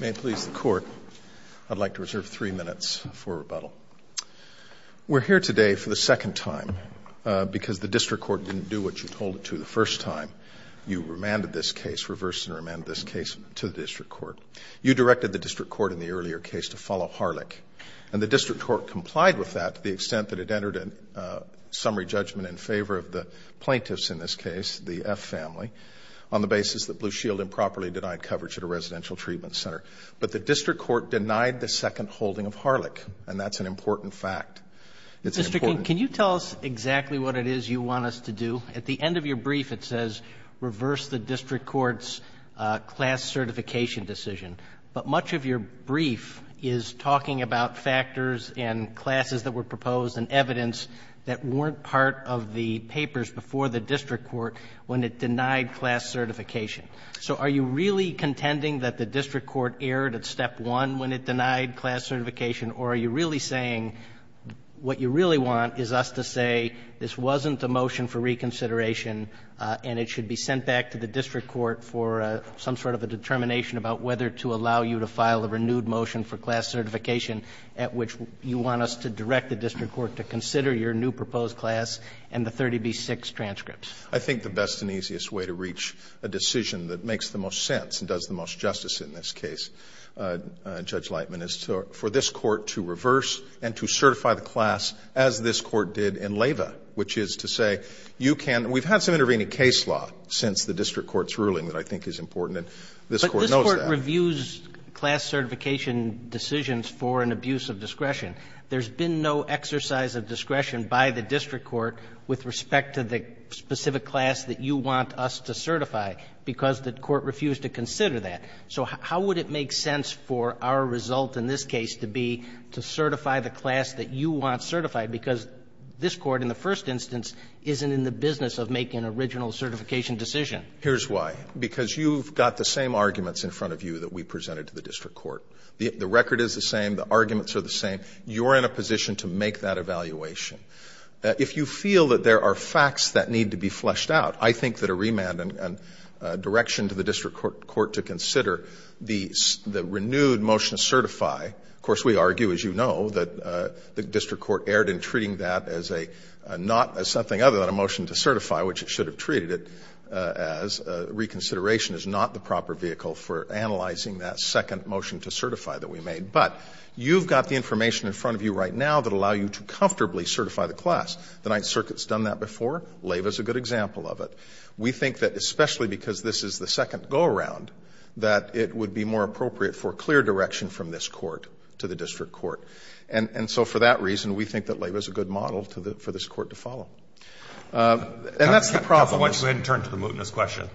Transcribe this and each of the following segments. May it please the Court, I'd like to reserve three minutes for rebuttal. We're here today for the second time because the District Court didn't do what you told it to the first time. You remanded this case, reversed and remanded this case to the District Court. You directed the District Court in the earlier case to follow Harlech, and the District Court complied with that to the extent that it entered a summary judgment in favor of the plaintiffs in this case, the F family, on the basis that Blue Shield improperly denied coverage at a residential treatment center. But the District Court denied the second holding of Harlech, and that's an important fact. It's an important fact. Roberts. Mr. King, can you tell us exactly what it is you want us to do? At the end of your brief, it says reverse the District Court's class certification decision. But much of your brief is talking about factors and classes that were proposed and evidence that weren't part of the papers before the District Court when it denied class certification. So are you really contending that the District Court erred at step one when it denied class certification, or are you really saying what you really want is us to say this wasn't a motion for reconsideration and it should be sent back to the District Court for some sort of a determination about whether to allow you to file a renewed motion for class certification at which you want us to direct the District Court to consider your new proposed class and the 30B6 transcripts? I think the best and easiest way to reach a decision that makes the most sense and does the most justice in this case, Judge Lightman, is for this Court to reverse and to certify the class as this Court did in Leyva, which is to say you can — we've had some intervening case law since the District Court's ruling that I think is important, and this Court knows that. But this Court reviews class certification decisions for an abuse of discretion. There's been no exercise of discretion by the District Court with respect to the specific class that you want us to certify because the Court refused to consider that. So how would it make sense for our result in this case to be to certify the class that you want certified because this Court in the first instance isn't in the business of making an original certification decision? Here's why. Because you've got the same arguments in front of you that we presented to the District Court. The record is the same. The arguments are the same. You're in a position to make that evaluation. If you feel that there are facts that need to be fleshed out, I think that a remand and direction to the District Court to consider the renewed motion to certify — of course, we argue, as you know, that the District Court erred in treating that as a — not as something other than a motion to certify, which it should have treated it as. Reconsideration is not the proper vehicle for analyzing that second motion to certify that we made. But you've got the information in front of you right now that will allow you to comfortably certify the class. The Ninth Circuit's done that before. Leyva's a good example of it. We think that especially because this is the second go-around, that it would be more appropriate for clear direction from this Court to the District Court. And so for that reason, we think that Leyva's a good model for this Court to follow. And that's the problem— Counsel, why don't you go ahead and turn to the mootness question?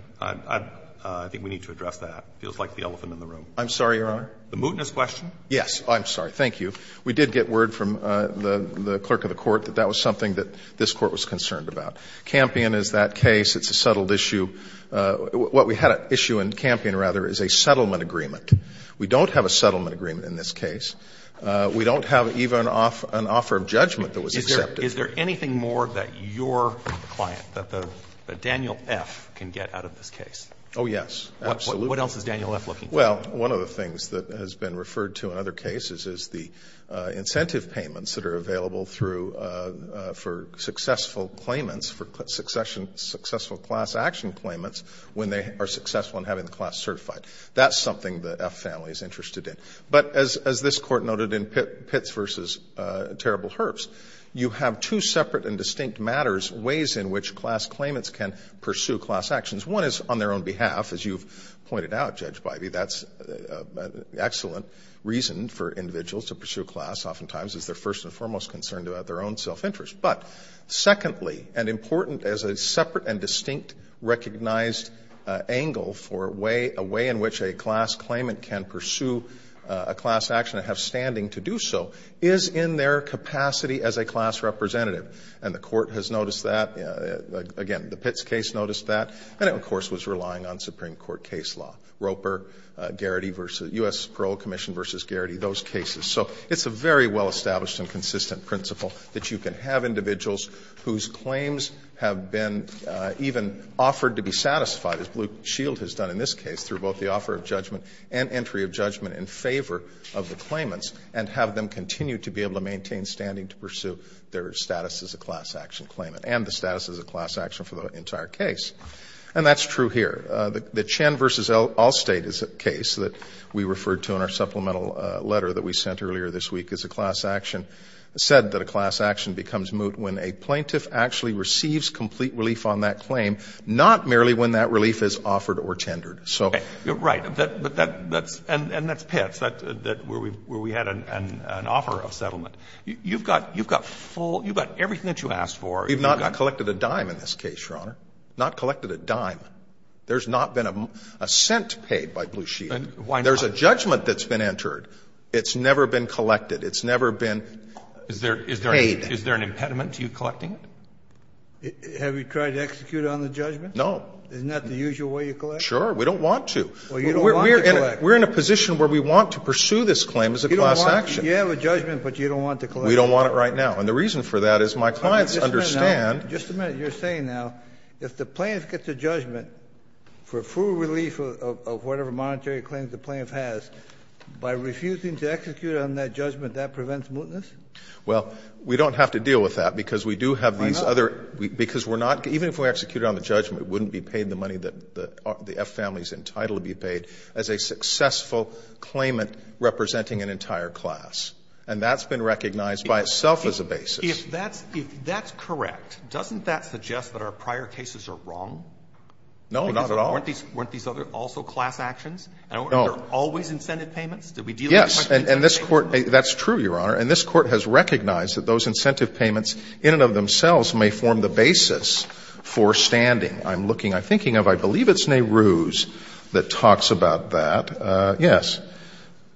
I think we need to address that. It feels like the elephant in the room. I'm sorry, Your Honor? The mootness question? Yes. I'm sorry. Thank you. We did get word from the clerk of the Court that that was something that this Court was concerned about. Campion is that case. It's a settled issue. What we had at issue in Campion, rather, is a settlement agreement. We don't have a settlement agreement in this case. We don't have even an offer of judgment that was accepted. Is there anything more that your client, that Daniel F., can get out of this case? Oh, yes. Absolutely. What else is Daniel F. looking for? Well, one of the things that has been referred to in other cases is the incentive payments that are available through—for successful claimants, for successful class action claimants when they are successful in having the class certified. That's something that F. family is interested in. But as this Court noted in Pitts v. Terrible Herbs, you have two separate and distinct matters, ways in which class claimants can pursue class actions. One is on their own behalf. As you've pointed out, Judge Bivey, that's an excellent reason for individuals to pursue class oftentimes, is they're first and foremost concerned about their own self-interest. But secondly, and important as a separate and distinct recognized angle for a way in which a class claimant can pursue a class action and have standing to do so, is in their capacity as a class representative. And the Court has noticed that. Again, the Pitts case noticed that. And it, of course, was relying on Supreme Court case law. Roper, Garrity v.—U.S. Parole Commission v. Garrity, those cases. So it's a very well-established and consistent principle that you can have individuals whose claims have been even offered to be satisfied, as Blue Shield has done in this case, through both the offer of judgment and entry of judgment in favor of the claimants, and have them continue to be able to maintain standing to pursue their status as a class action claimant and the status as a class action for the entire case. And that's true here. The Chen v. Allstate case that we referred to in our supplemental letter that we sent earlier this week as a class action said that a class action becomes moot when a plaintiff actually receives complete relief on that claim, not merely when that relief is offered or tendered. So— Roberts. Right. But that's — and that's Pitts, where we had an offer of settlement. You've got full — you've got everything that you asked for. You've got— I'm sorry, Your Honor, not collected a dime. There's not been a cent paid by Blue Shield. There's a judgment that's been entered. It's never been collected. It's never been paid. Is there an impediment to you collecting it? Have you tried to execute it on the judgment? No. Isn't that the usual way you collect? Sure. We don't want to. Well, you don't want to collect. We're in a position where we want to pursue this claim as a class action. You have a judgment, but you don't want to collect it. We don't want it right now. And the reason for that is my clients understand— If the plaintiff gets a judgment for full relief of whatever monetary claims the plaintiff has, by refusing to execute it on that judgment, that prevents mootness? Well, we don't have to deal with that because we do have these other— Why not? Because we're not — even if we executed it on the judgment, it wouldn't be paid the money that the F family is entitled to be paid as a successful claimant representing an entire class. And that's been recognized by itself as a basis. If that's — if that's correct, doesn't that suggest that our prior cases are wrong? No, not at all. Because weren't these other also class actions? No. And weren't there always incentive payments? Did we deal with the question of incentive payments? Yes. And this Court — that's true, Your Honor. And this Court has recognized that those incentive payments in and of themselves may form the basis for standing. I'm looking — I'm thinking of — I believe it's Nehru's that talks about that. Yes.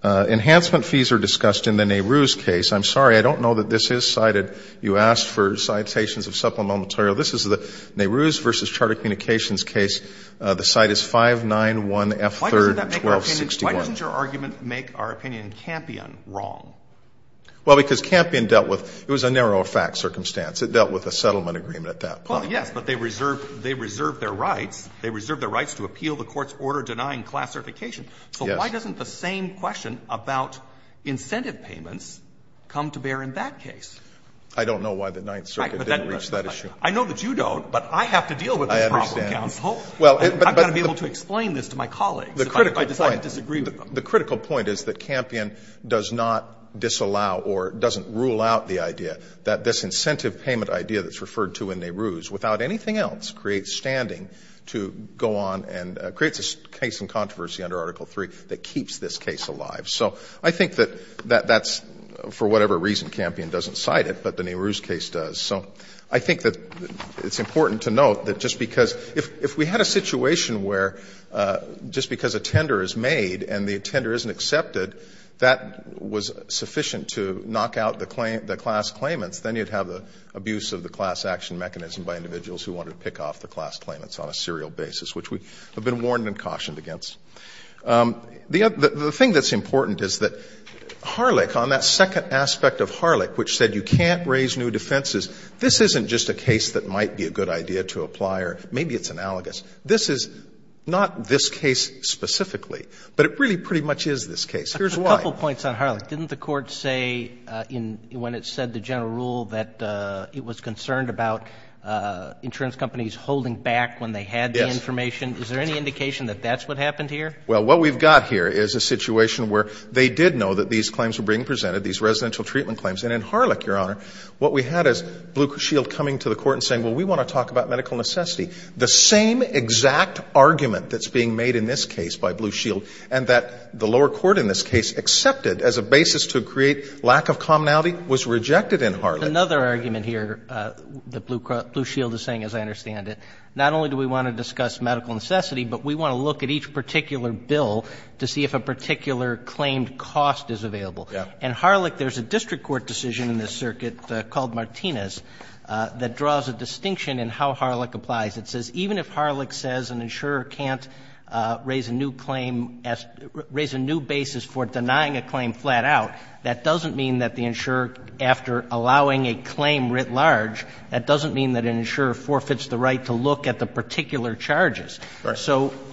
Enhancement fees are discussed in the Nehru's case. I'm sorry. I don't know that this is cited. You asked for citations of supplemental material. This is the Nehru's v. Charter Communications case. The cite is 591F3-1261. Why doesn't that make our opinion — why doesn't your argument make our opinion in Campion wrong? Well, because Campion dealt with — it was a narrow fact circumstance. It dealt with a settlement agreement at that point. Well, yes, but they reserved — they reserved their rights. They reserved their rights to appeal the Court's order denying class certification. Yes. Why doesn't the same question about incentive payments come to bear in that case? I don't know why the Ninth Circuit didn't reach that issue. I know that you don't, but I have to deal with this problem, counsel. I understand. I've got to be able to explain this to my colleagues if I decide to disagree with them. The critical point is that Campion does not disallow or doesn't rule out the idea that this incentive payment idea that's referred to in Nehru's, without anything else, creates standing to go on and creates a case in controversy under Article 3 that keeps this case alive. So I think that that's — for whatever reason, Campion doesn't cite it, but the Nehru's case does. So I think that it's important to note that just because — if we had a situation where just because a tender is made and the tender isn't accepted, that was sufficient to knock out the claim — the class claimants, then you'd have the abuse of the class action mechanism by individuals who wanted to pick off the class claimants on a serial basis, which we have been warned and cautioned against. The thing that's important is that Harlech, on that second aspect of Harlech, which said you can't raise new defenses, this isn't just a case that might be a good idea to apply or maybe it's analogous. This is not this case specifically, but it really pretty much is this case. Here's why. A couple points on Harlech. Didn't the Court say in — when it said the general rule that it was concerned about insurance companies holding back when they had the information? Yes. Is there any indication that that's what happened here? Well, what we've got here is a situation where they did know that these claims were being presented, these residential treatment claims. And in Harlech, Your Honor, what we had is Blue Shield coming to the Court and saying, well, we want to talk about medical necessity. The same exact argument that's being made in this case by Blue Shield and that the lower court in this case accepted as a basis to create lack of commonality was rejected in Harlech. Another argument here that Blue Shield is saying, as I understand it, not only do we want to discuss medical necessity, but we want to look at each particular bill to see if a particular claimed cost is available. And Harlech, there's a district court decision in this circuit called Martinez that draws a distinction in how Harlech applies. It says even if Harlech says an insurer can't raise a new claim as — raise a new basis for denying a claim flat out, that doesn't mean that the insurer, after allowing a claim writ large, that doesn't mean that an insurer forfeits the right to look at the particular charges. So —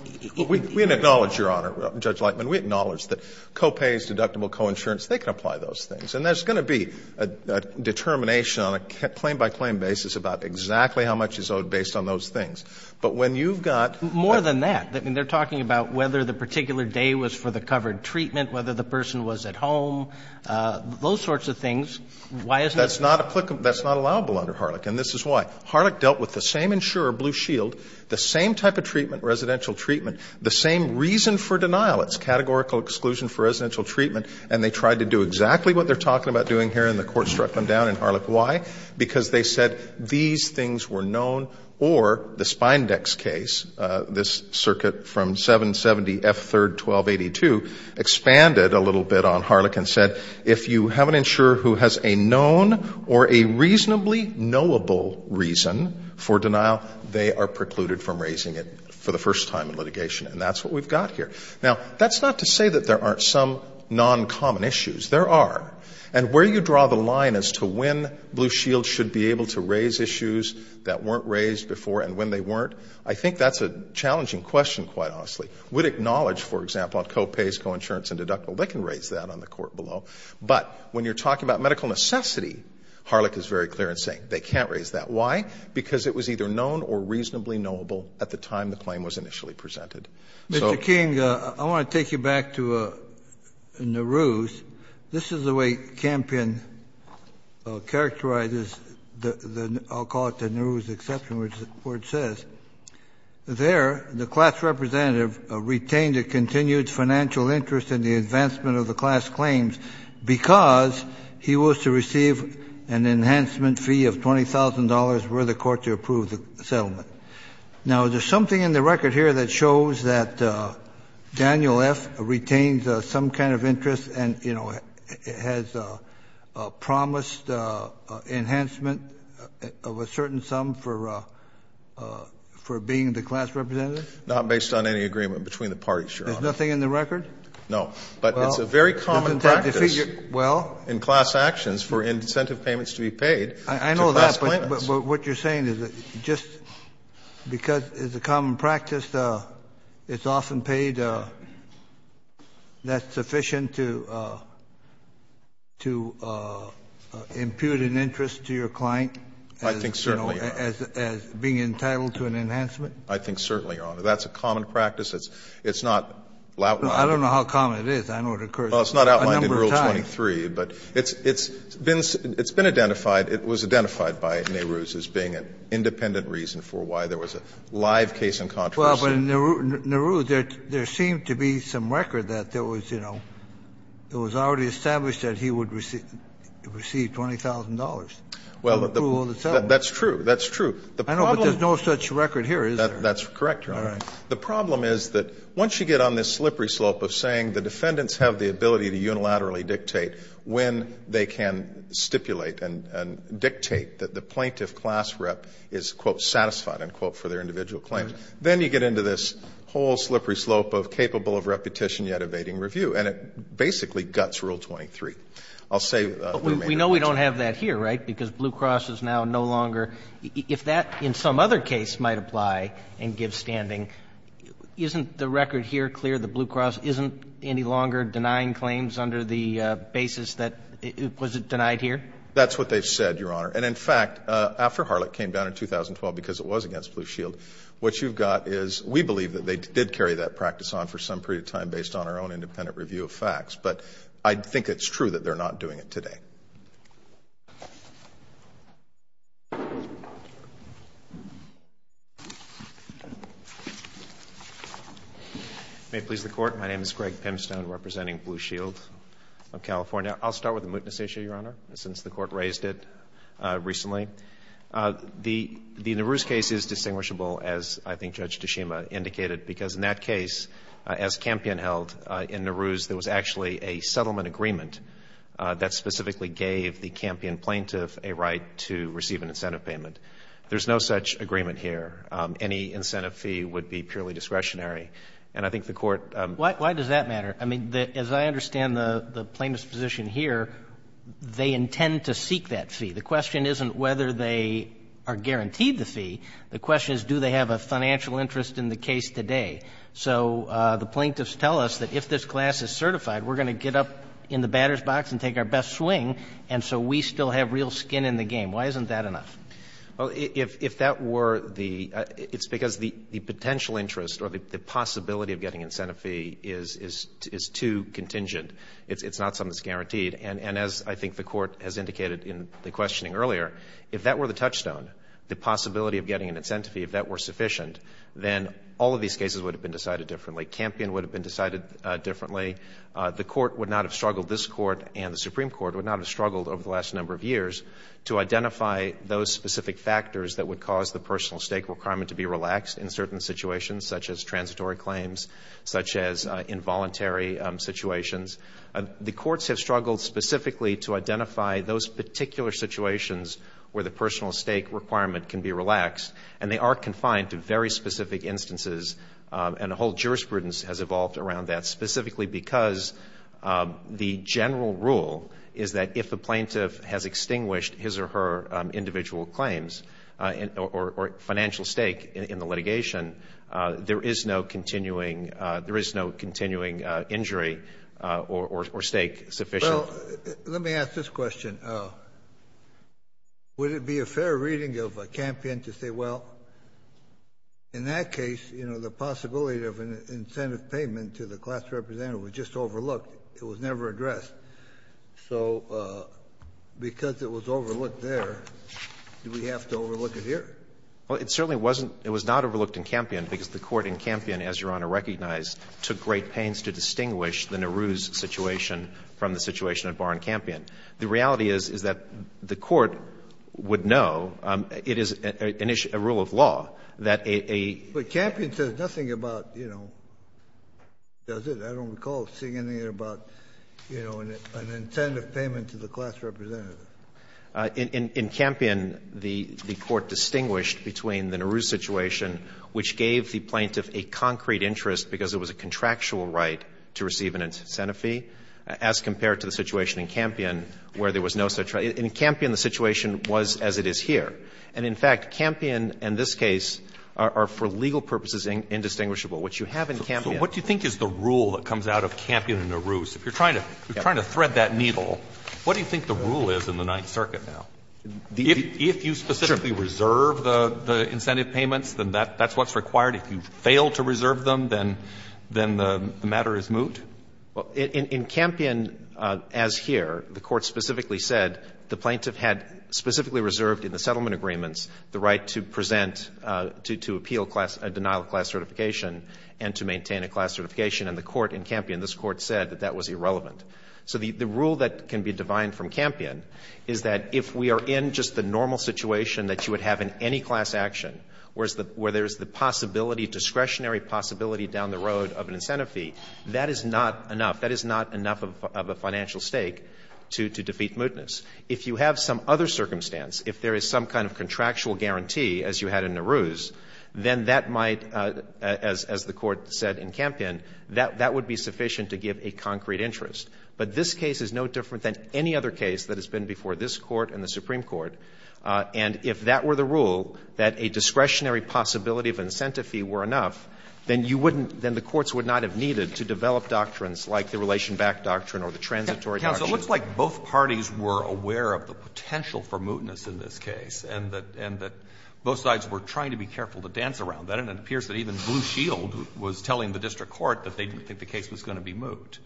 We acknowledge, Your Honor, Judge Lightman. We acknowledge that co-pays, deductible coinsurance, they can apply those things. And there's going to be a determination on a claim-by-claim basis about exactly how much is owed based on those things. But when you've got — More than that. I mean, they're talking about whether the particular day was for the covered treatment, whether the person was at home, those sorts of things. Why isn't it — That's not applicable. That's not allowable under Harlech. And this is why. Harlech dealt with the same insurer, Blue Shield, the same type of treatment, residential treatment, the same reason for denial. It's categorical exclusion for residential treatment. And they tried to do exactly what they're talking about doing here, and the Court struck them down in Harlech. Why? Because they said these things were known, or the Spindex case, this circuit from 770F3-1282, expanded a little bit on Harlech and said, if you have an insurer who has a known or a reasonably knowable reason for denial, they are precluded from raising it for the first time in litigation. And that's what we've got here. Now, that's not to say that there aren't some noncommon issues. There are. And where you draw the line as to when Blue Shield should be able to raise issues that weren't raised before and when they weren't, I think that's a challenging question, quite honestly. We'd acknowledge, for example, on copays, coinsurance and deductible, they can raise that on the Court below. But when you're talking about medical necessity, Harlech is very clear in saying they can't raise that. Why? Because it was either known or reasonably knowable at the time the claim was initially presented. Kennedy. Mr. King, I want to take you back to Nehru's. This is the way Campion characterizes the, I'll call it the Nehru's exception, which the Court says. There, the class representative retained a continued financial interest in the advancement of the class claims because he was to receive an enhancement fee of $20,000 were the Court to approve the settlement. Now, is there something in the record here that shows that Daniel F. retains some kind of interest and, you know, has promised enhancement of a certain sum for being the class representative? Not based on any agreement between the parties, Your Honor. There's nothing in the record? No. But it's a very common practice in class actions for incentive payments to be paid to class claimants. But what you're saying is that just because it's a common practice, it's often paid, that's sufficient to, to impute an interest to your client as, you know, as being entitled to an enhancement? I think certainly, Your Honor. That's a common practice. It's not outlined. I don't know how common it is. I know it occurs a number of times. Well, it's not outlined in Rule 23, but it's been identified. It was identified by Nehru's as being an independent reason for why there was a live case in controversy. Well, but in Nehru's, there seemed to be some record that there was, you know, it was already established that he would receive $20,000 for approval of the settlement. Well, that's true. That's true. I know, but there's no such record here, is there? That's correct, Your Honor. All right. The problem is that once you get on this slippery slope of saying the defendants have the ability to unilaterally dictate when they can stipulate and dictate that the plaintiff class rep is, quote, satisfied, unquote, for their individual claims, then you get into this whole slippery slope of capable of repetition yet evading review. And it basically guts Rule 23. I'll say the remainder. But we know we don't have that here, right, because Blue Cross is now no longer — if that in some other case might apply and give standing, isn't the record here clear that Blue Cross isn't any longer denying claims under the basis that — was it denied here? That's what they've said, Your Honor. And, in fact, after Harlech came down in 2012, because it was against Blue Shield, what you've got is — we believe that they did carry that practice on for some period of time based on our own independent review of facts. But I think it's true that they're not doing it today. May it please the Court. My name is Greg Pimstone representing Blue Shield of California. I'll start with the mootness issue, Your Honor, since the Court raised it recently. The Nehru's case is distinguishable, as I think Judge Tshima indicated, because in that case, as Campion held, in Nehru's there was actually a settlement or an agreement that specifically gave the Campion plaintiff a right to receive an incentive payment. There's no such agreement here. Any incentive fee would be purely discretionary. And I think the Court — Why does that matter? I mean, as I understand the plaintiff's position here, they intend to seek that fee. The question isn't whether they are guaranteed the fee. The question is do they have a financial interest in the case today. So the plaintiffs tell us that if this class is certified, we're going to get up in the batter's box and take our best swing. And so we still have real skin in the game. Why isn't that enough? Well, if that were the — it's because the potential interest or the possibility of getting an incentive fee is too contingent. It's not something that's guaranteed. And as I think the Court has indicated in the questioning earlier, if that were the touchstone, the possibility of getting an incentive fee, if that were sufficient, then all of these cases would have been decided differently. Campion would have been decided differently. The Court would not have struggled — this Court and the Supreme Court would not have struggled over the last number of years to identify those specific factors that would cause the personal stake requirement to be relaxed in certain situations, such as transitory claims, such as involuntary situations. The courts have struggled specifically to identify those particular situations where the personal stake requirement can be relaxed. And they are confined to very specific instances, and a whole jurisprudence has evolved around that, specifically because the general rule is that if a plaintiff has extinguished his or her individual claims or financial stake in the litigation, there is no continuing — there is no continuing injury or stake sufficient. Well, let me ask this question. Would it be a fair reading of Campion to say, well, in that case, you know, the possibility of an incentive payment to the class representative was just overlooked. It was never addressed. So because it was overlooked there, do we have to overlook it here? Well, it certainly wasn't — it was not overlooked in Campion, because the Court in Campion, as Your Honor recognized, took great pains to distinguish the Nehru's situation from the situation at Barr and Campion. The reality is, is that the Court would know it is a rule of law that a — But Campion says nothing about, you know, does it? I don't recall seeing anything about, you know, an incentive payment to the class representative. In Campion, the Court distinguished between the Nehru situation, which gave the plaintiff a concrete interest because it was a contractual right to receive an incentive fee, as compared to the situation in Campion where there was no such right. In Campion, the situation was as it is here. And in fact, Campion and this case are for legal purposes indistinguishable. What you have in Campion — So what do you think is the rule that comes out of Campion and Nehru? So if you're trying to thread that needle, what do you think the rule is in the Ninth Circuit now? If you specifically reserve the incentive payments, then that's what's required? If you fail to reserve them, then the matter is moot? In Campion, as here, the Court specifically said the plaintiff had specifically reserved in the settlement agreements the right to present, to appeal class — denial of class certification and to maintain a class certification. And the Court in Campion, this Court said that that was irrelevant. So the rule that can be divined from Campion is that if we are in just the normal situation that you would have in any class action, where there's the possibility, discretionary possibility down the road of an incentive fee, that is not enough. That is not enough of a financial stake to defeat mootness. If you have some other circumstance, if there is some kind of contractual guarantee, as you had in Nehru's, then that might, as the Court said in Campion, that would be sufficient to give a concrete interest. But this case is no different than any other case that has been before this Court and the Supreme Court. And if that were the rule, that a discretionary possibility of incentive fee were enough, then you wouldn't — then the courts would not have needed to develop doctrines like the relation-back doctrine or the transitory doctrine. Alito, it looks like both parties were aware of the potential for mootness in this case and that — and that both sides were trying to be careful to dance around that. And it appears that even Blue Shield was telling the district court that they didn't think the case was going to be moot.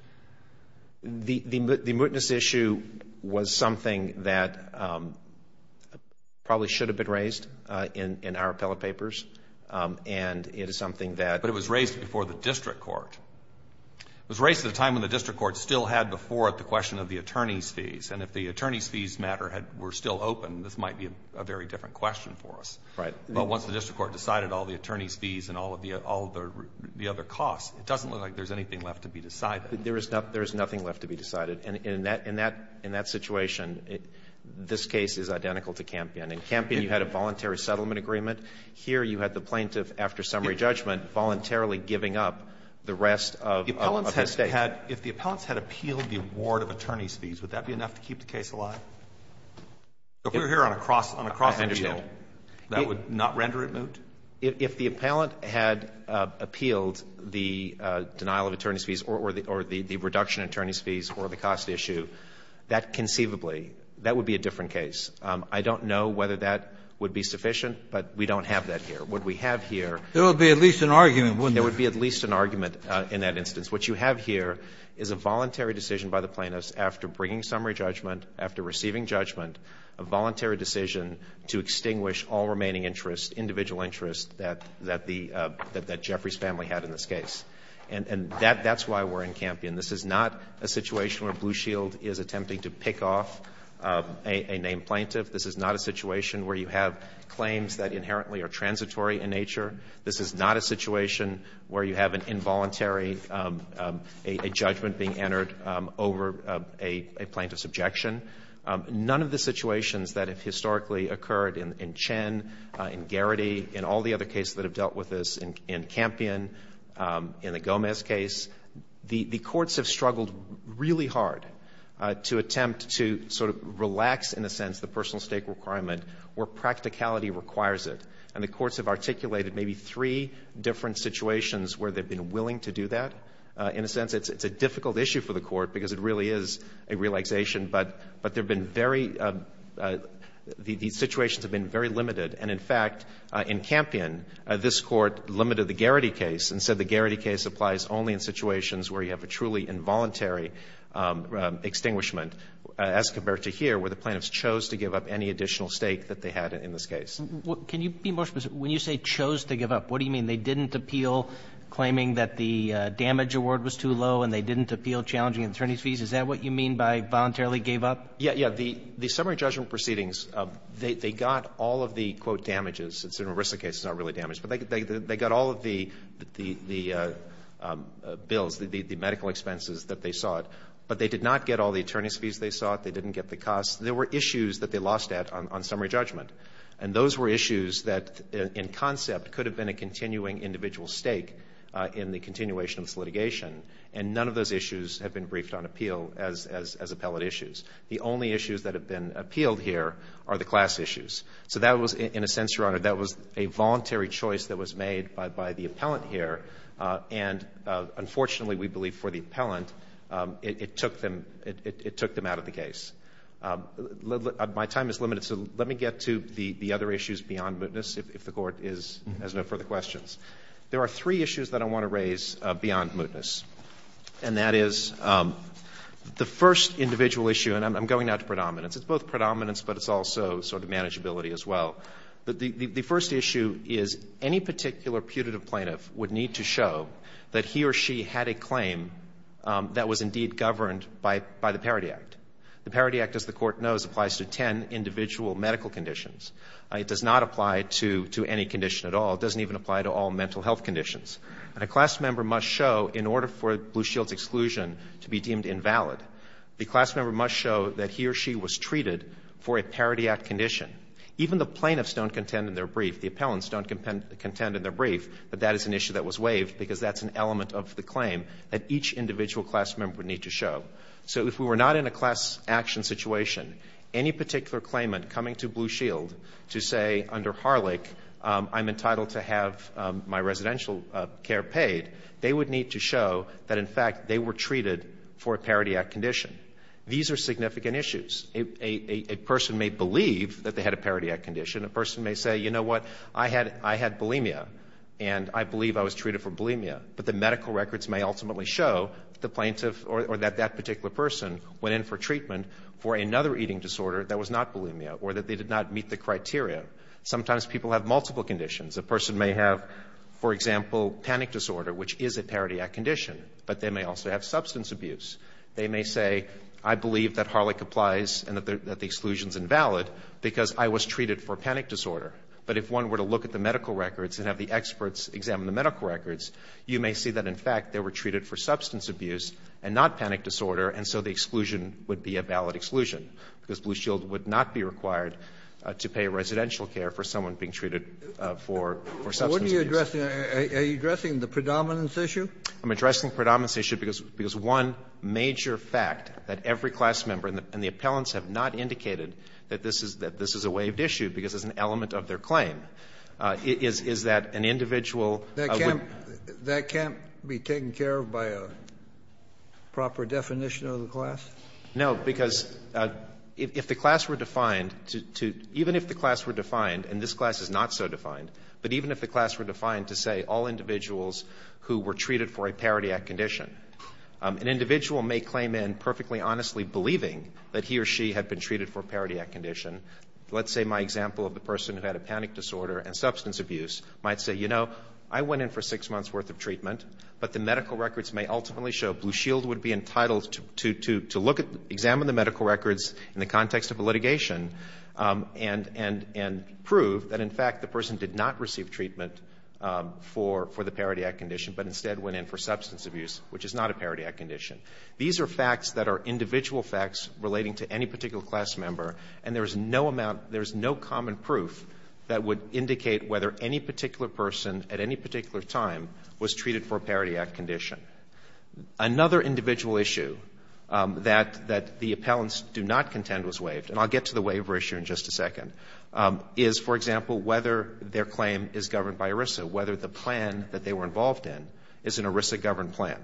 The mootness issue was something that probably should have been raised in our appellate papers. And it is something that — But it was raised before the district court. It was raised at a time when the district court still had before it the question of the attorney's fees. And if the attorney's fees matter were still open, this might be a very different question for us. Right. But once the district court decided all the attorney's fees and all of the other costs, it doesn't look like there's anything left to be decided. There is nothing left to be decided. And in that situation, this case is identical to Campion. In Campion, you had a voluntary settlement agreement. Here, you had the plaintiff, after summary judgment, voluntarily giving up the rest of the state. If the appellants had appealed the award of attorney's fees, would that be enough to keep the case alive? If we were here on a cross appeal, that would not render it moot? If the appellant had appealed the denial of attorney's fees or the reduction of attorney's fees or the cost issue, that conceivably, that would be a different case. I don't know whether that would be sufficient, but we don't have that here. What we have here — There would be at least an argument, wouldn't there? There would be at least an argument in that instance. What you have here is a voluntary decision by the plaintiffs, after bringing summary judgment, after receiving judgment, a voluntary decision to extinguish all remaining interests, individual interests, that Jeffrey's family had in this case. And that's why we're in Campion. This is not a situation where Blue Shield is attempting to pick off a named plaintiff. This is not a situation where you have claims that inherently are transitory in nature. This is not a situation where you have an involuntary judgment being entered over a plaintiff's objection. None of the situations that have historically occurred in Chen, in Garrity, in all the other cases that have dealt with this, in Campion, in the Gomez case, the courts have struggled really hard to attempt to sort of relax, in a sense, the personal stake requirement where practicality requires it. And the courts have articulated maybe three different situations where they've been willing to do that. In a sense, it's a difficult issue for the court because it really is a relaxation, but there have been very — these situations have been very limited. And, in fact, in Campion, this Court limited the Garrity case and said the Garrity case applies only in situations where you have a truly involuntary extinguishment as compared to here, where the plaintiffs chose to give up any additional stake that they had in this case. Can you be more specific? When you say chose to give up, what do you mean? They didn't appeal claiming that the damage award was too low and they didn't appeal challenging attorney's fees? Is that what you mean by voluntarily gave up? Yeah. Yeah. The summary judgment proceedings, they got all of the, quote, damages. It's an Arista case. It's not really damage. But they got all of the bills, the medical expenses that they sought. But they did not get all the attorney's fees they sought. They didn't get the costs. There were issues that they lost at on summary judgment. And those were issues that, in concept, could have been a continuing individual stake in the continuation of this litigation. And none of those issues have been briefed on appeal as appellate issues. The only issues that have been appealed here are the class issues. So that was, in a sense, Your Honor, that was a voluntary choice that was made by the appellant here. And, unfortunately, we believe for the appellant, it took them out of the case. My time is limited, so let me get to the other issues beyond mootness, if the Court has no further questions. There are three issues that I want to raise beyond mootness. And that is the first individual issue, and I'm going now to predominance. It's both predominance, but it's also sort of manageability as well. The first issue is any particular putative plaintiff would need to show that he or she had a claim that was indeed governed by the Parity Act. The Parity Act, as the Court knows, applies to ten individual medical conditions. It does not apply to any condition at all. It doesn't even apply to all mental health conditions. And a class member must show, in order for Blue Shield's exclusion to be deemed invalid, the class member must show that he or she was treated for a Parity Act condition. Even the plaintiffs don't contend in their brief. The appellants don't contend in their brief that that is an issue that was waived because that's an element of the claim that each individual class member would need to show. So if we were not in a class action situation, any particular claimant coming to Blue Shield to say under Harlech I'm entitled to have my residential care paid, they would need to show that, in fact, they were treated for a Parity Act condition. These are significant issues. A person may believe that they had a Parity Act condition. A person may say, you know what, I had bulimia, and I believe I was treated for bulimia. But the medical records may ultimately show the plaintiff or that that particular person went in for treatment for another eating disorder that was not bulimia or that they did not meet the criteria. Sometimes people have multiple conditions. A person may have, for example, panic disorder, which is a Parity Act condition, but they may also have substance abuse. They may say I believe that Harlech applies and that the exclusion is invalid because I was treated for panic disorder. But if one were to look at the medical records and have the experts examine the medical records, you may see that, in fact, they were treated for substance abuse and not panic disorder, and so the exclusion would be a valid exclusion because Blue Shield would not be required to pay residential care for someone being treated for substance abuse. Kennedy. Well, what are you addressing? Are you addressing the predominance issue? I'm addressing the predominance issue because one major fact that every class member and the appellants have not indicated that this is a waived issue because it's an element of their claim, is that an individual would be taken care of by a proper definition of the class? No, because if the class were defined to — even if the class were defined, and this class is not so defined, but even if the class were defined to say all individuals who were treated for a Parity Act condition, an individual may claim in perfectly honestly believing that he or she had been treated for a Parity Act condition. Let's say my example of the person who had a panic disorder and substance abuse might say, you know, I went in for six months' worth of treatment, but the medical records may ultimately show Blue Shield would be entitled to examine the medical records in the context of a litigation and prove that, in fact, the person did not receive treatment for the Parity Act condition, but instead went in for substance abuse, which is not a Parity Act condition. These are facts that are individual facts relating to any particular class member, and there is no common proof that would indicate whether any particular person at any particular time was treated for a Parity Act condition. Another individual issue that the appellants do not contend was waived, and I'll get to the waiver issue in just a second, is, for example, whether their claim is governed by ERISA, whether the plan that they were involved in is an ERISA-governed plan.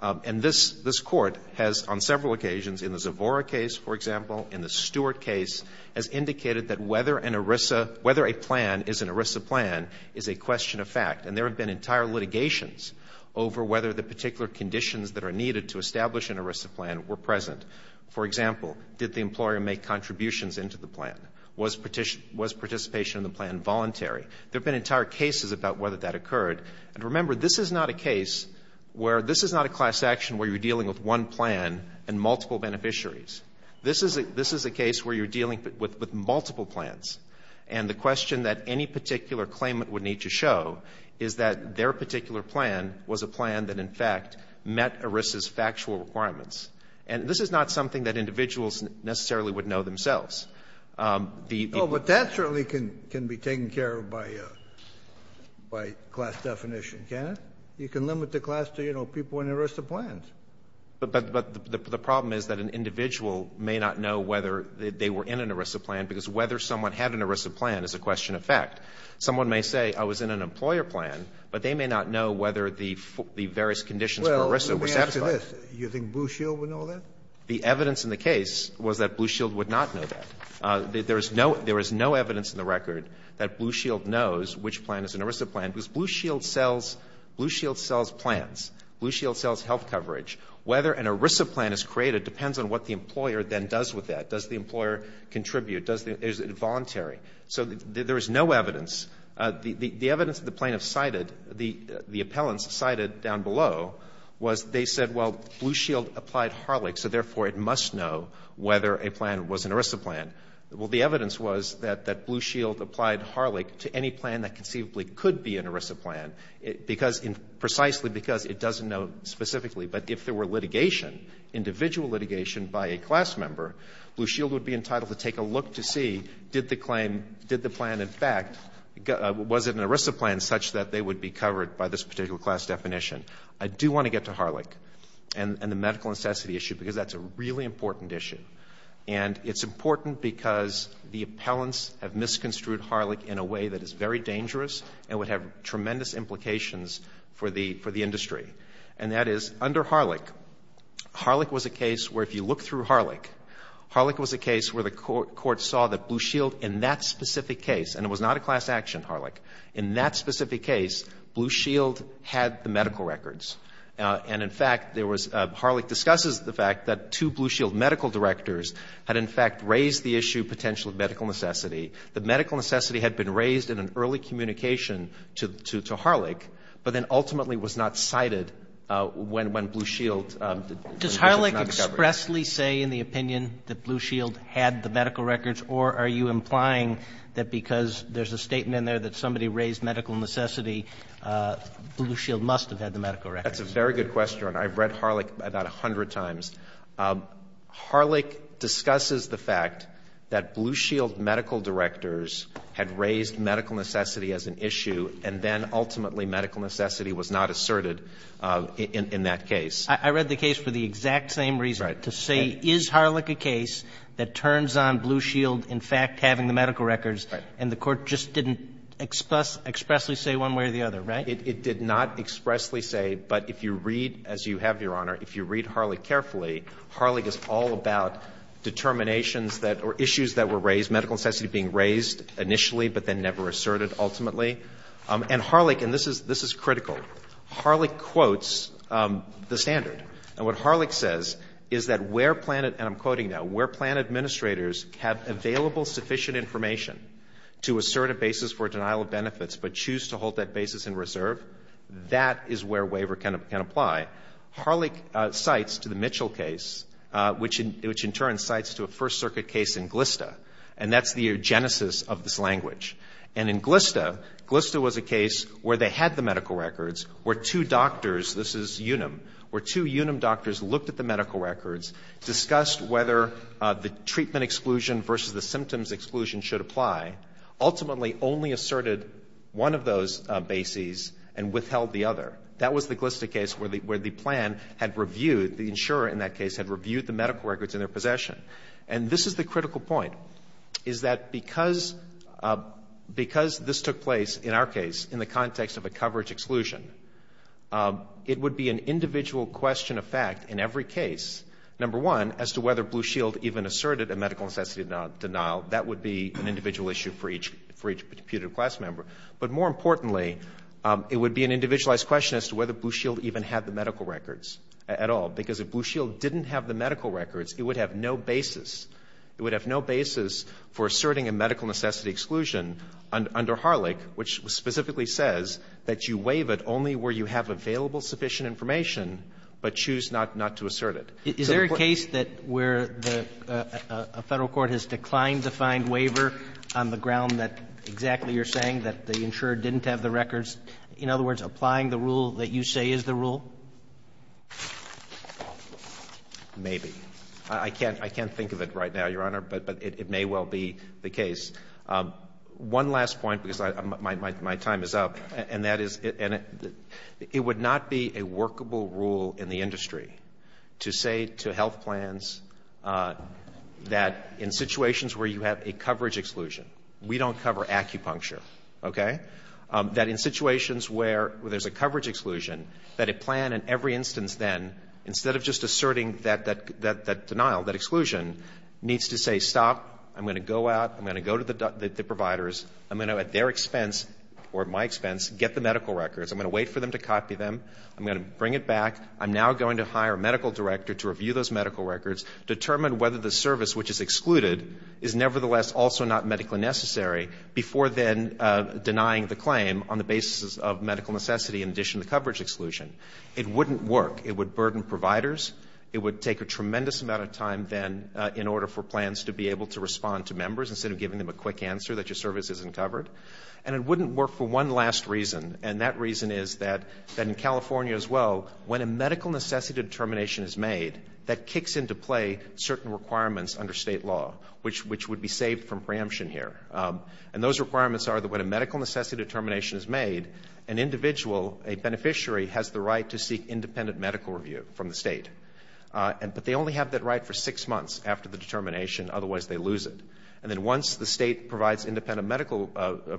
And this Court has, on several occasions, in the Zavora case, for example, in the Stewart case, has indicated that whether an ERISA — whether a plan is an ERISA plan is a question of fact, and there have been entire litigations over whether the particular conditions that are needed to establish an ERISA plan were present. For example, did the employer make contributions into the plan? Was participation in the plan voluntary? There have been entire cases about whether that occurred. And remember, this is not a case where — this is not a class action where you're dealing with one plan and multiple beneficiaries. This is a case where you're dealing with multiple plans, and the question that any individual would want to know is that their particular plan was a plan that, in fact, met ERISA's factual requirements. And this is not something that individuals necessarily would know themselves. The — Kennedy. Oh, but that certainly can be taken care of by class definition, can't it? You can limit the class to, you know, people in ERISA plans. Goldstein. But the problem is that an individual may not know whether they were in an ERISA plan because whether someone had an ERISA plan is a question of fact. Someone may say, I was in an employer plan, but they may not know whether the various conditions for ERISA were satisfied. Well, let me ask you this. You think Blue Shield would know that? The evidence in the case was that Blue Shield would not know that. There is no evidence in the record that Blue Shield knows which plan is an ERISA plan because Blue Shield sells plans. Blue Shield sells health coverage. Whether an ERISA plan is created depends on what the employer then does with that. Does the employer contribute? Is it voluntary? So there is no evidence. The evidence that the plaintiffs cited, the appellants cited down below, was they said, well, Blue Shield applied Harlech, so therefore it must know whether a plan was an ERISA plan. Well, the evidence was that Blue Shield applied Harlech to any plan that conceivably could be an ERISA plan, because precisely because it doesn't know specifically. But if there were litigation, individual litigation by a class member, Blue Shield would be entitled to take a look to see did the claim, did the plan in fact, was it an ERISA plan such that they would be covered by this particular class definition. I do want to get to Harlech and the medical necessity issue because that's a really important issue. And it's important because the appellants have misconstrued Harlech in a way that is very dangerous and would have tremendous implications for the industry. And that is under Harlech, Harlech was a case where if you look through Harlech, Harlech was a case where the Court saw that Blue Shield in that specific case, and it was not a class action, Harlech, in that specific case, Blue Shield had the medical records. And in fact, there was, Harlech discusses the fact that two Blue Shield medical directors had in fact raised the issue of potential medical necessity. The medical necessity had been raised in an early communication to Harlech, but then ultimately was not cited when Blue Shield was not covered. Do you expressly say in the opinion that Blue Shield had the medical records, or are you implying that because there's a statement in there that somebody raised medical necessity, Blue Shield must have had the medical records? That's a very good question. I've read Harlech about a hundred times. Harlech discusses the fact that Blue Shield medical directors had raised medical necessity as an issue, and then ultimately medical necessity was not asserted in that case. I read the case for the exact same reason, to say is Harlech a case that turns on Blue Shield in fact having the medical records, and the Court just didn't expressly say one way or the other, right? It did not expressly say. But if you read, as you have, Your Honor, if you read Harlech carefully, Harlech is all about determinations that or issues that were raised, medical necessity being raised initially, but then never asserted ultimately. And Harlech, and this is critical, Harlech quotes the standard. And what Harlech says is that where plan, and I'm quoting now, where plan administrators have available sufficient information to assert a basis for denial of benefits but choose to hold that basis in reserve, that is where waiver can apply. Harlech cites to the Mitchell case, which in turn cites to a First Circuit case in Glista, and that's the genesis of this language. And in Glista, Glista was a case where they had the medical records, where two doctors, this is Unum, where two Unum doctors looked at the medical records, discussed whether the treatment exclusion versus the symptoms exclusion should apply, ultimately only asserted one of those bases and withheld the other. That was the Glista case where the plan had reviewed, the insurer in that case had reviewed the medical records in their possession. And this is the critical point, is that because this took place, in our case, in the context of a coverage exclusion, it would be an individual question of fact in every case, number one, as to whether Blue Shield even asserted a medical necessity denial, that would be an individual issue for each putative class member. But more importantly, it would be an individualized question as to whether Blue Shield even had the medical records at all. Because if Blue Shield didn't have the medical records, it would have no basis. It would have no basis for asserting a medical necessity exclusion under Harlech, which specifically says that you waive it only where you have available sufficient information, but choose not to assert it. So the point of this case is that it's a case where a Federal court has declined to find waiver on the ground that exactly you're saying, that the insurer didn't have the records. In other words, applying the rule that you say is the rule? Maybe. I can't think of it right now, Your Honor, but it may well be the case. One last point, because my time is up, and that is it would not be a workable rule in the industry to say to health plans that in situations where you have a coverage exclusion, we don't cover acupuncture, okay, that in situations where there's a coverage exclusion, that a plan in every instance then, instead of just asserting that denial, that exclusion, needs to say, stop, I'm going to go out, I'm going to go to the providers, I'm going to at their expense or my expense get the medical records, I'm going to wait for them to copy them, I'm going to bring it back, I'm now going to hire a medical director to review those medical records, determine whether the service which is excluded is nevertheless also not a medical necessity in addition to coverage exclusion. It wouldn't work. It would burden providers. It would take a tremendous amount of time then in order for plans to be able to respond to members instead of giving them a quick answer that your service isn't covered. And it wouldn't work for one last reason, and that reason is that in California as well, when a medical necessity determination is made, that kicks into play certain requirements under State law, which would be saved from preemption here. And those requirements are that when a medical necessity determination is made, an individual, a beneficiary has the right to seek independent medical review from the State. But they only have that right for six months after the determination, otherwise they lose it. And then once the State provides independent medical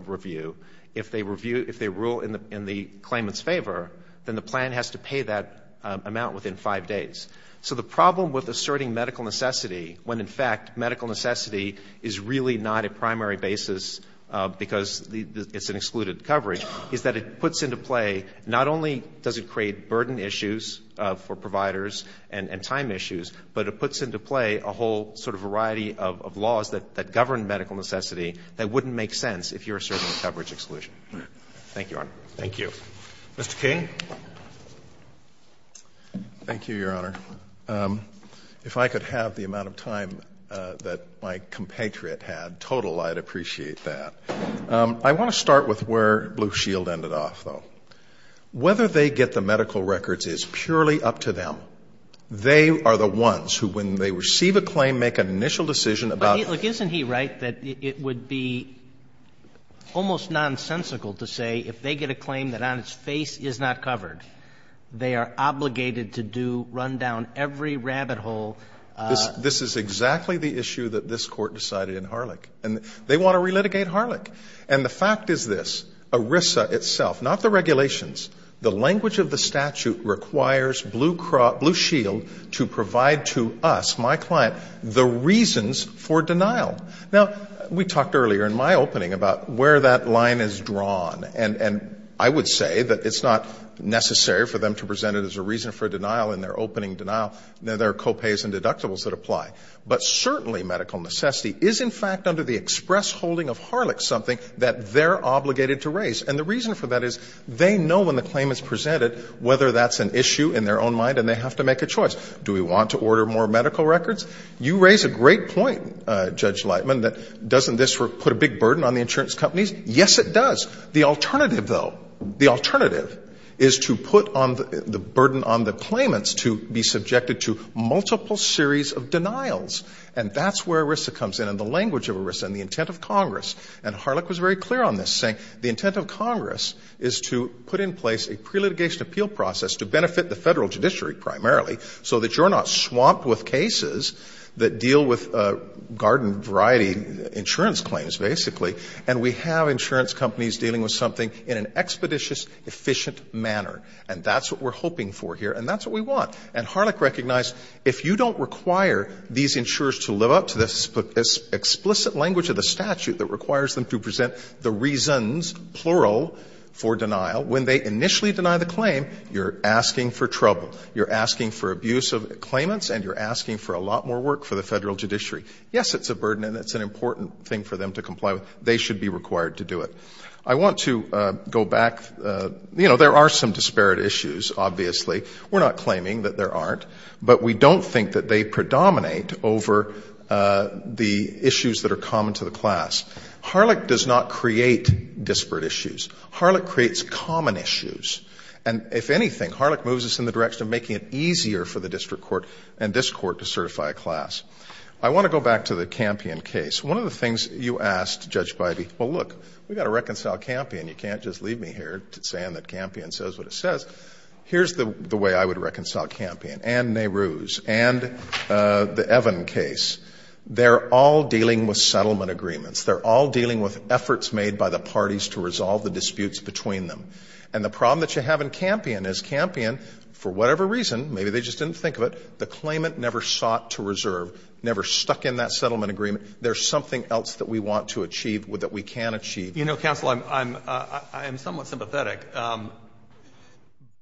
review, if they rule in the claimant's favor, then the plan has to pay that amount within five days. So the problem with asserting medical necessity when, in fact, medical necessity is really not a primary basis because it's an excluded coverage, is that it puts into play not only does it create burden issues for providers and time issues, but it puts into play a whole sort of variety of laws that govern medical necessity that wouldn't make sense if you're asserting coverage exclusion. Thank you, Your Honor. Roberts. Mr. King. Thank you, Your Honor. If I could have the amount of time that my compatriot had total, I'd appreciate that. I want to start with where Blue Shield ended off, though. Whether they get the medical records is purely up to them. They are the ones who, when they receive a claim, make an initial decision about it. But, look, isn't he right that it would be almost nonsensical to say if they get a claim that on its face is not covered, they are obligated to do, run down every rabbit hole? This is exactly the issue that this Court decided in Harlech. And they want to relitigate Harlech. And the fact is this. ERISA itself, not the regulations, the language of the statute requires Blue Shield to provide to us, my client, the reasons for denial. Now, we talked earlier in my opening about where that line is drawn. And I would say that it's not necessary for them to present it as a reason for denial in their opening denial. There are co-pays and deductibles that apply. But certainly medical necessity is, in fact, under the express holding of Harlech something that they're obligated to raise. And the reason for that is they know when the claim is presented whether that's an issue in their own mind, and they have to make a choice. Do we want to order more medical records? You raise a great point, Judge Lightman, that doesn't this put a big burden on the insurance companies? Yes, it does. The alternative, though, the alternative is to put on the burden on the claimants to be subjected to multiple series of denials. And that's where ERISA comes in and the language of ERISA and the intent of Congress. And Harlech was very clear on this, saying the intent of Congress is to put in place a pre-litigation appeal process to benefit the Federal judiciary primarily so that you're not swamped with cases that deal with garden variety insurance claims, basically. And we have insurance companies dealing with something in an expeditious, efficient manner. And that's what we're hoping for here, and that's what we want. And Harlech recognized if you don't require these insurers to live up to the explicit language of the statute that requires them to present the reasons, plural, for denial, when they initially deny the claim, you're asking for trouble. You're asking for abuse of claimants, and you're asking for a lot more work for the Federal judiciary. Yes, it's a burden and it's an important thing for them to comply with. They should be required to do it. I want to go back. You know, there are some disparate issues, obviously. We're not claiming that there aren't. But we don't think that they predominate over the issues that are common to the class. Harlech does not create disparate issues. Harlech creates common issues. And if anything, Harlech moves us in the direction of making it easier for the district court and this Court to certify a class. I want to go back to the Campion case. One of the things you asked, Judge Biby, well, look, we've got to reconcile Campion. You can't just leave me here saying that Campion says what it says. Here's the way I would reconcile Campion and Nehru's and the Evan case. They're all dealing with settlement agreements. They're all dealing with efforts made by the parties to resolve the disputes between them. And the problem that you have in Campion is Campion, for whatever reason, maybe they just didn't think of it, the claimant never sought to reserve, never stuck in that settlement agreement. There's something else that we want to achieve that we can achieve. You know, counsel, I'm somewhat sympathetic,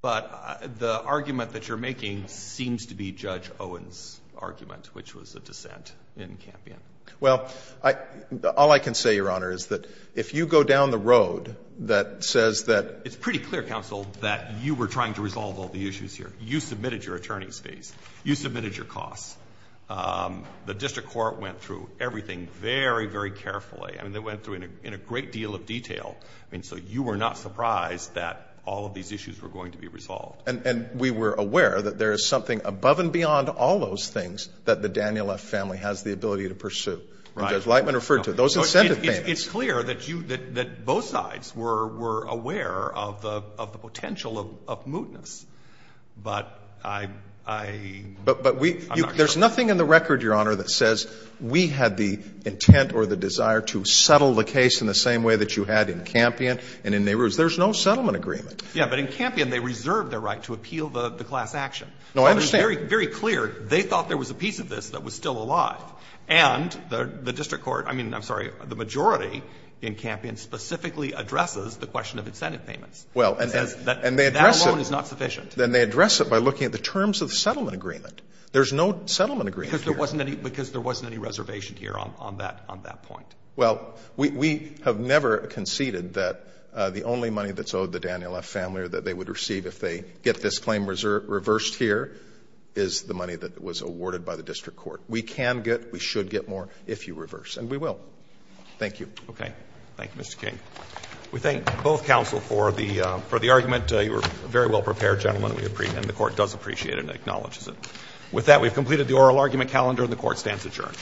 but the argument that you're making seems to be Judge Owen's argument, which was a dissent in Campion. Well, all I can say, Your Honor, is that if you go down the road that says that — It's pretty clear, counsel, that you were trying to resolve all the issues here. You submitted your attorney's fees. You submitted your costs. The district court went through everything very, very carefully. I mean, they went through it in a great deal of detail. I mean, so you were not surprised that all of these issues were going to be resolved. And we were aware that there is something above and beyond all those things that the Daniel F. family has the ability to pursue. And Judge Lightman referred to those incentive payments. It's clear that you — that both sides were aware of the potential of mootness. But I'm not sure. But there's nothing in the record, Your Honor, that says we had the intent or the desire to settle the case in the same way that you had in Campion and in Nehru's. There's no settlement agreement. Yeah, but in Campion, they reserved their right to appeal the class action. No, I understand. I mean, very, very clear. They thought there was a piece of this that was still alive. And the district court — I mean, I'm sorry, the majority in Campion specifically addresses the question of incentive payments. Well, and they address it. That alone is not sufficient. And they address it by looking at the terms of the settlement agreement. There's no settlement agreement here. Because there wasn't any reservation here on that point. Well, we have never conceded that the only money that's owed the Daniel F. family or that they would receive if they get this claim reversed here is the money that was awarded by the district court. We can get, we should get more if you reverse. And we will. Thank you. Okay. Thank you, Mr. King. We thank both counsel for the argument. You were a very well-prepared gentleman. And the Court does appreciate it and acknowledges it. With that, we've completed the oral argument calendar, and the Court stands adjourned.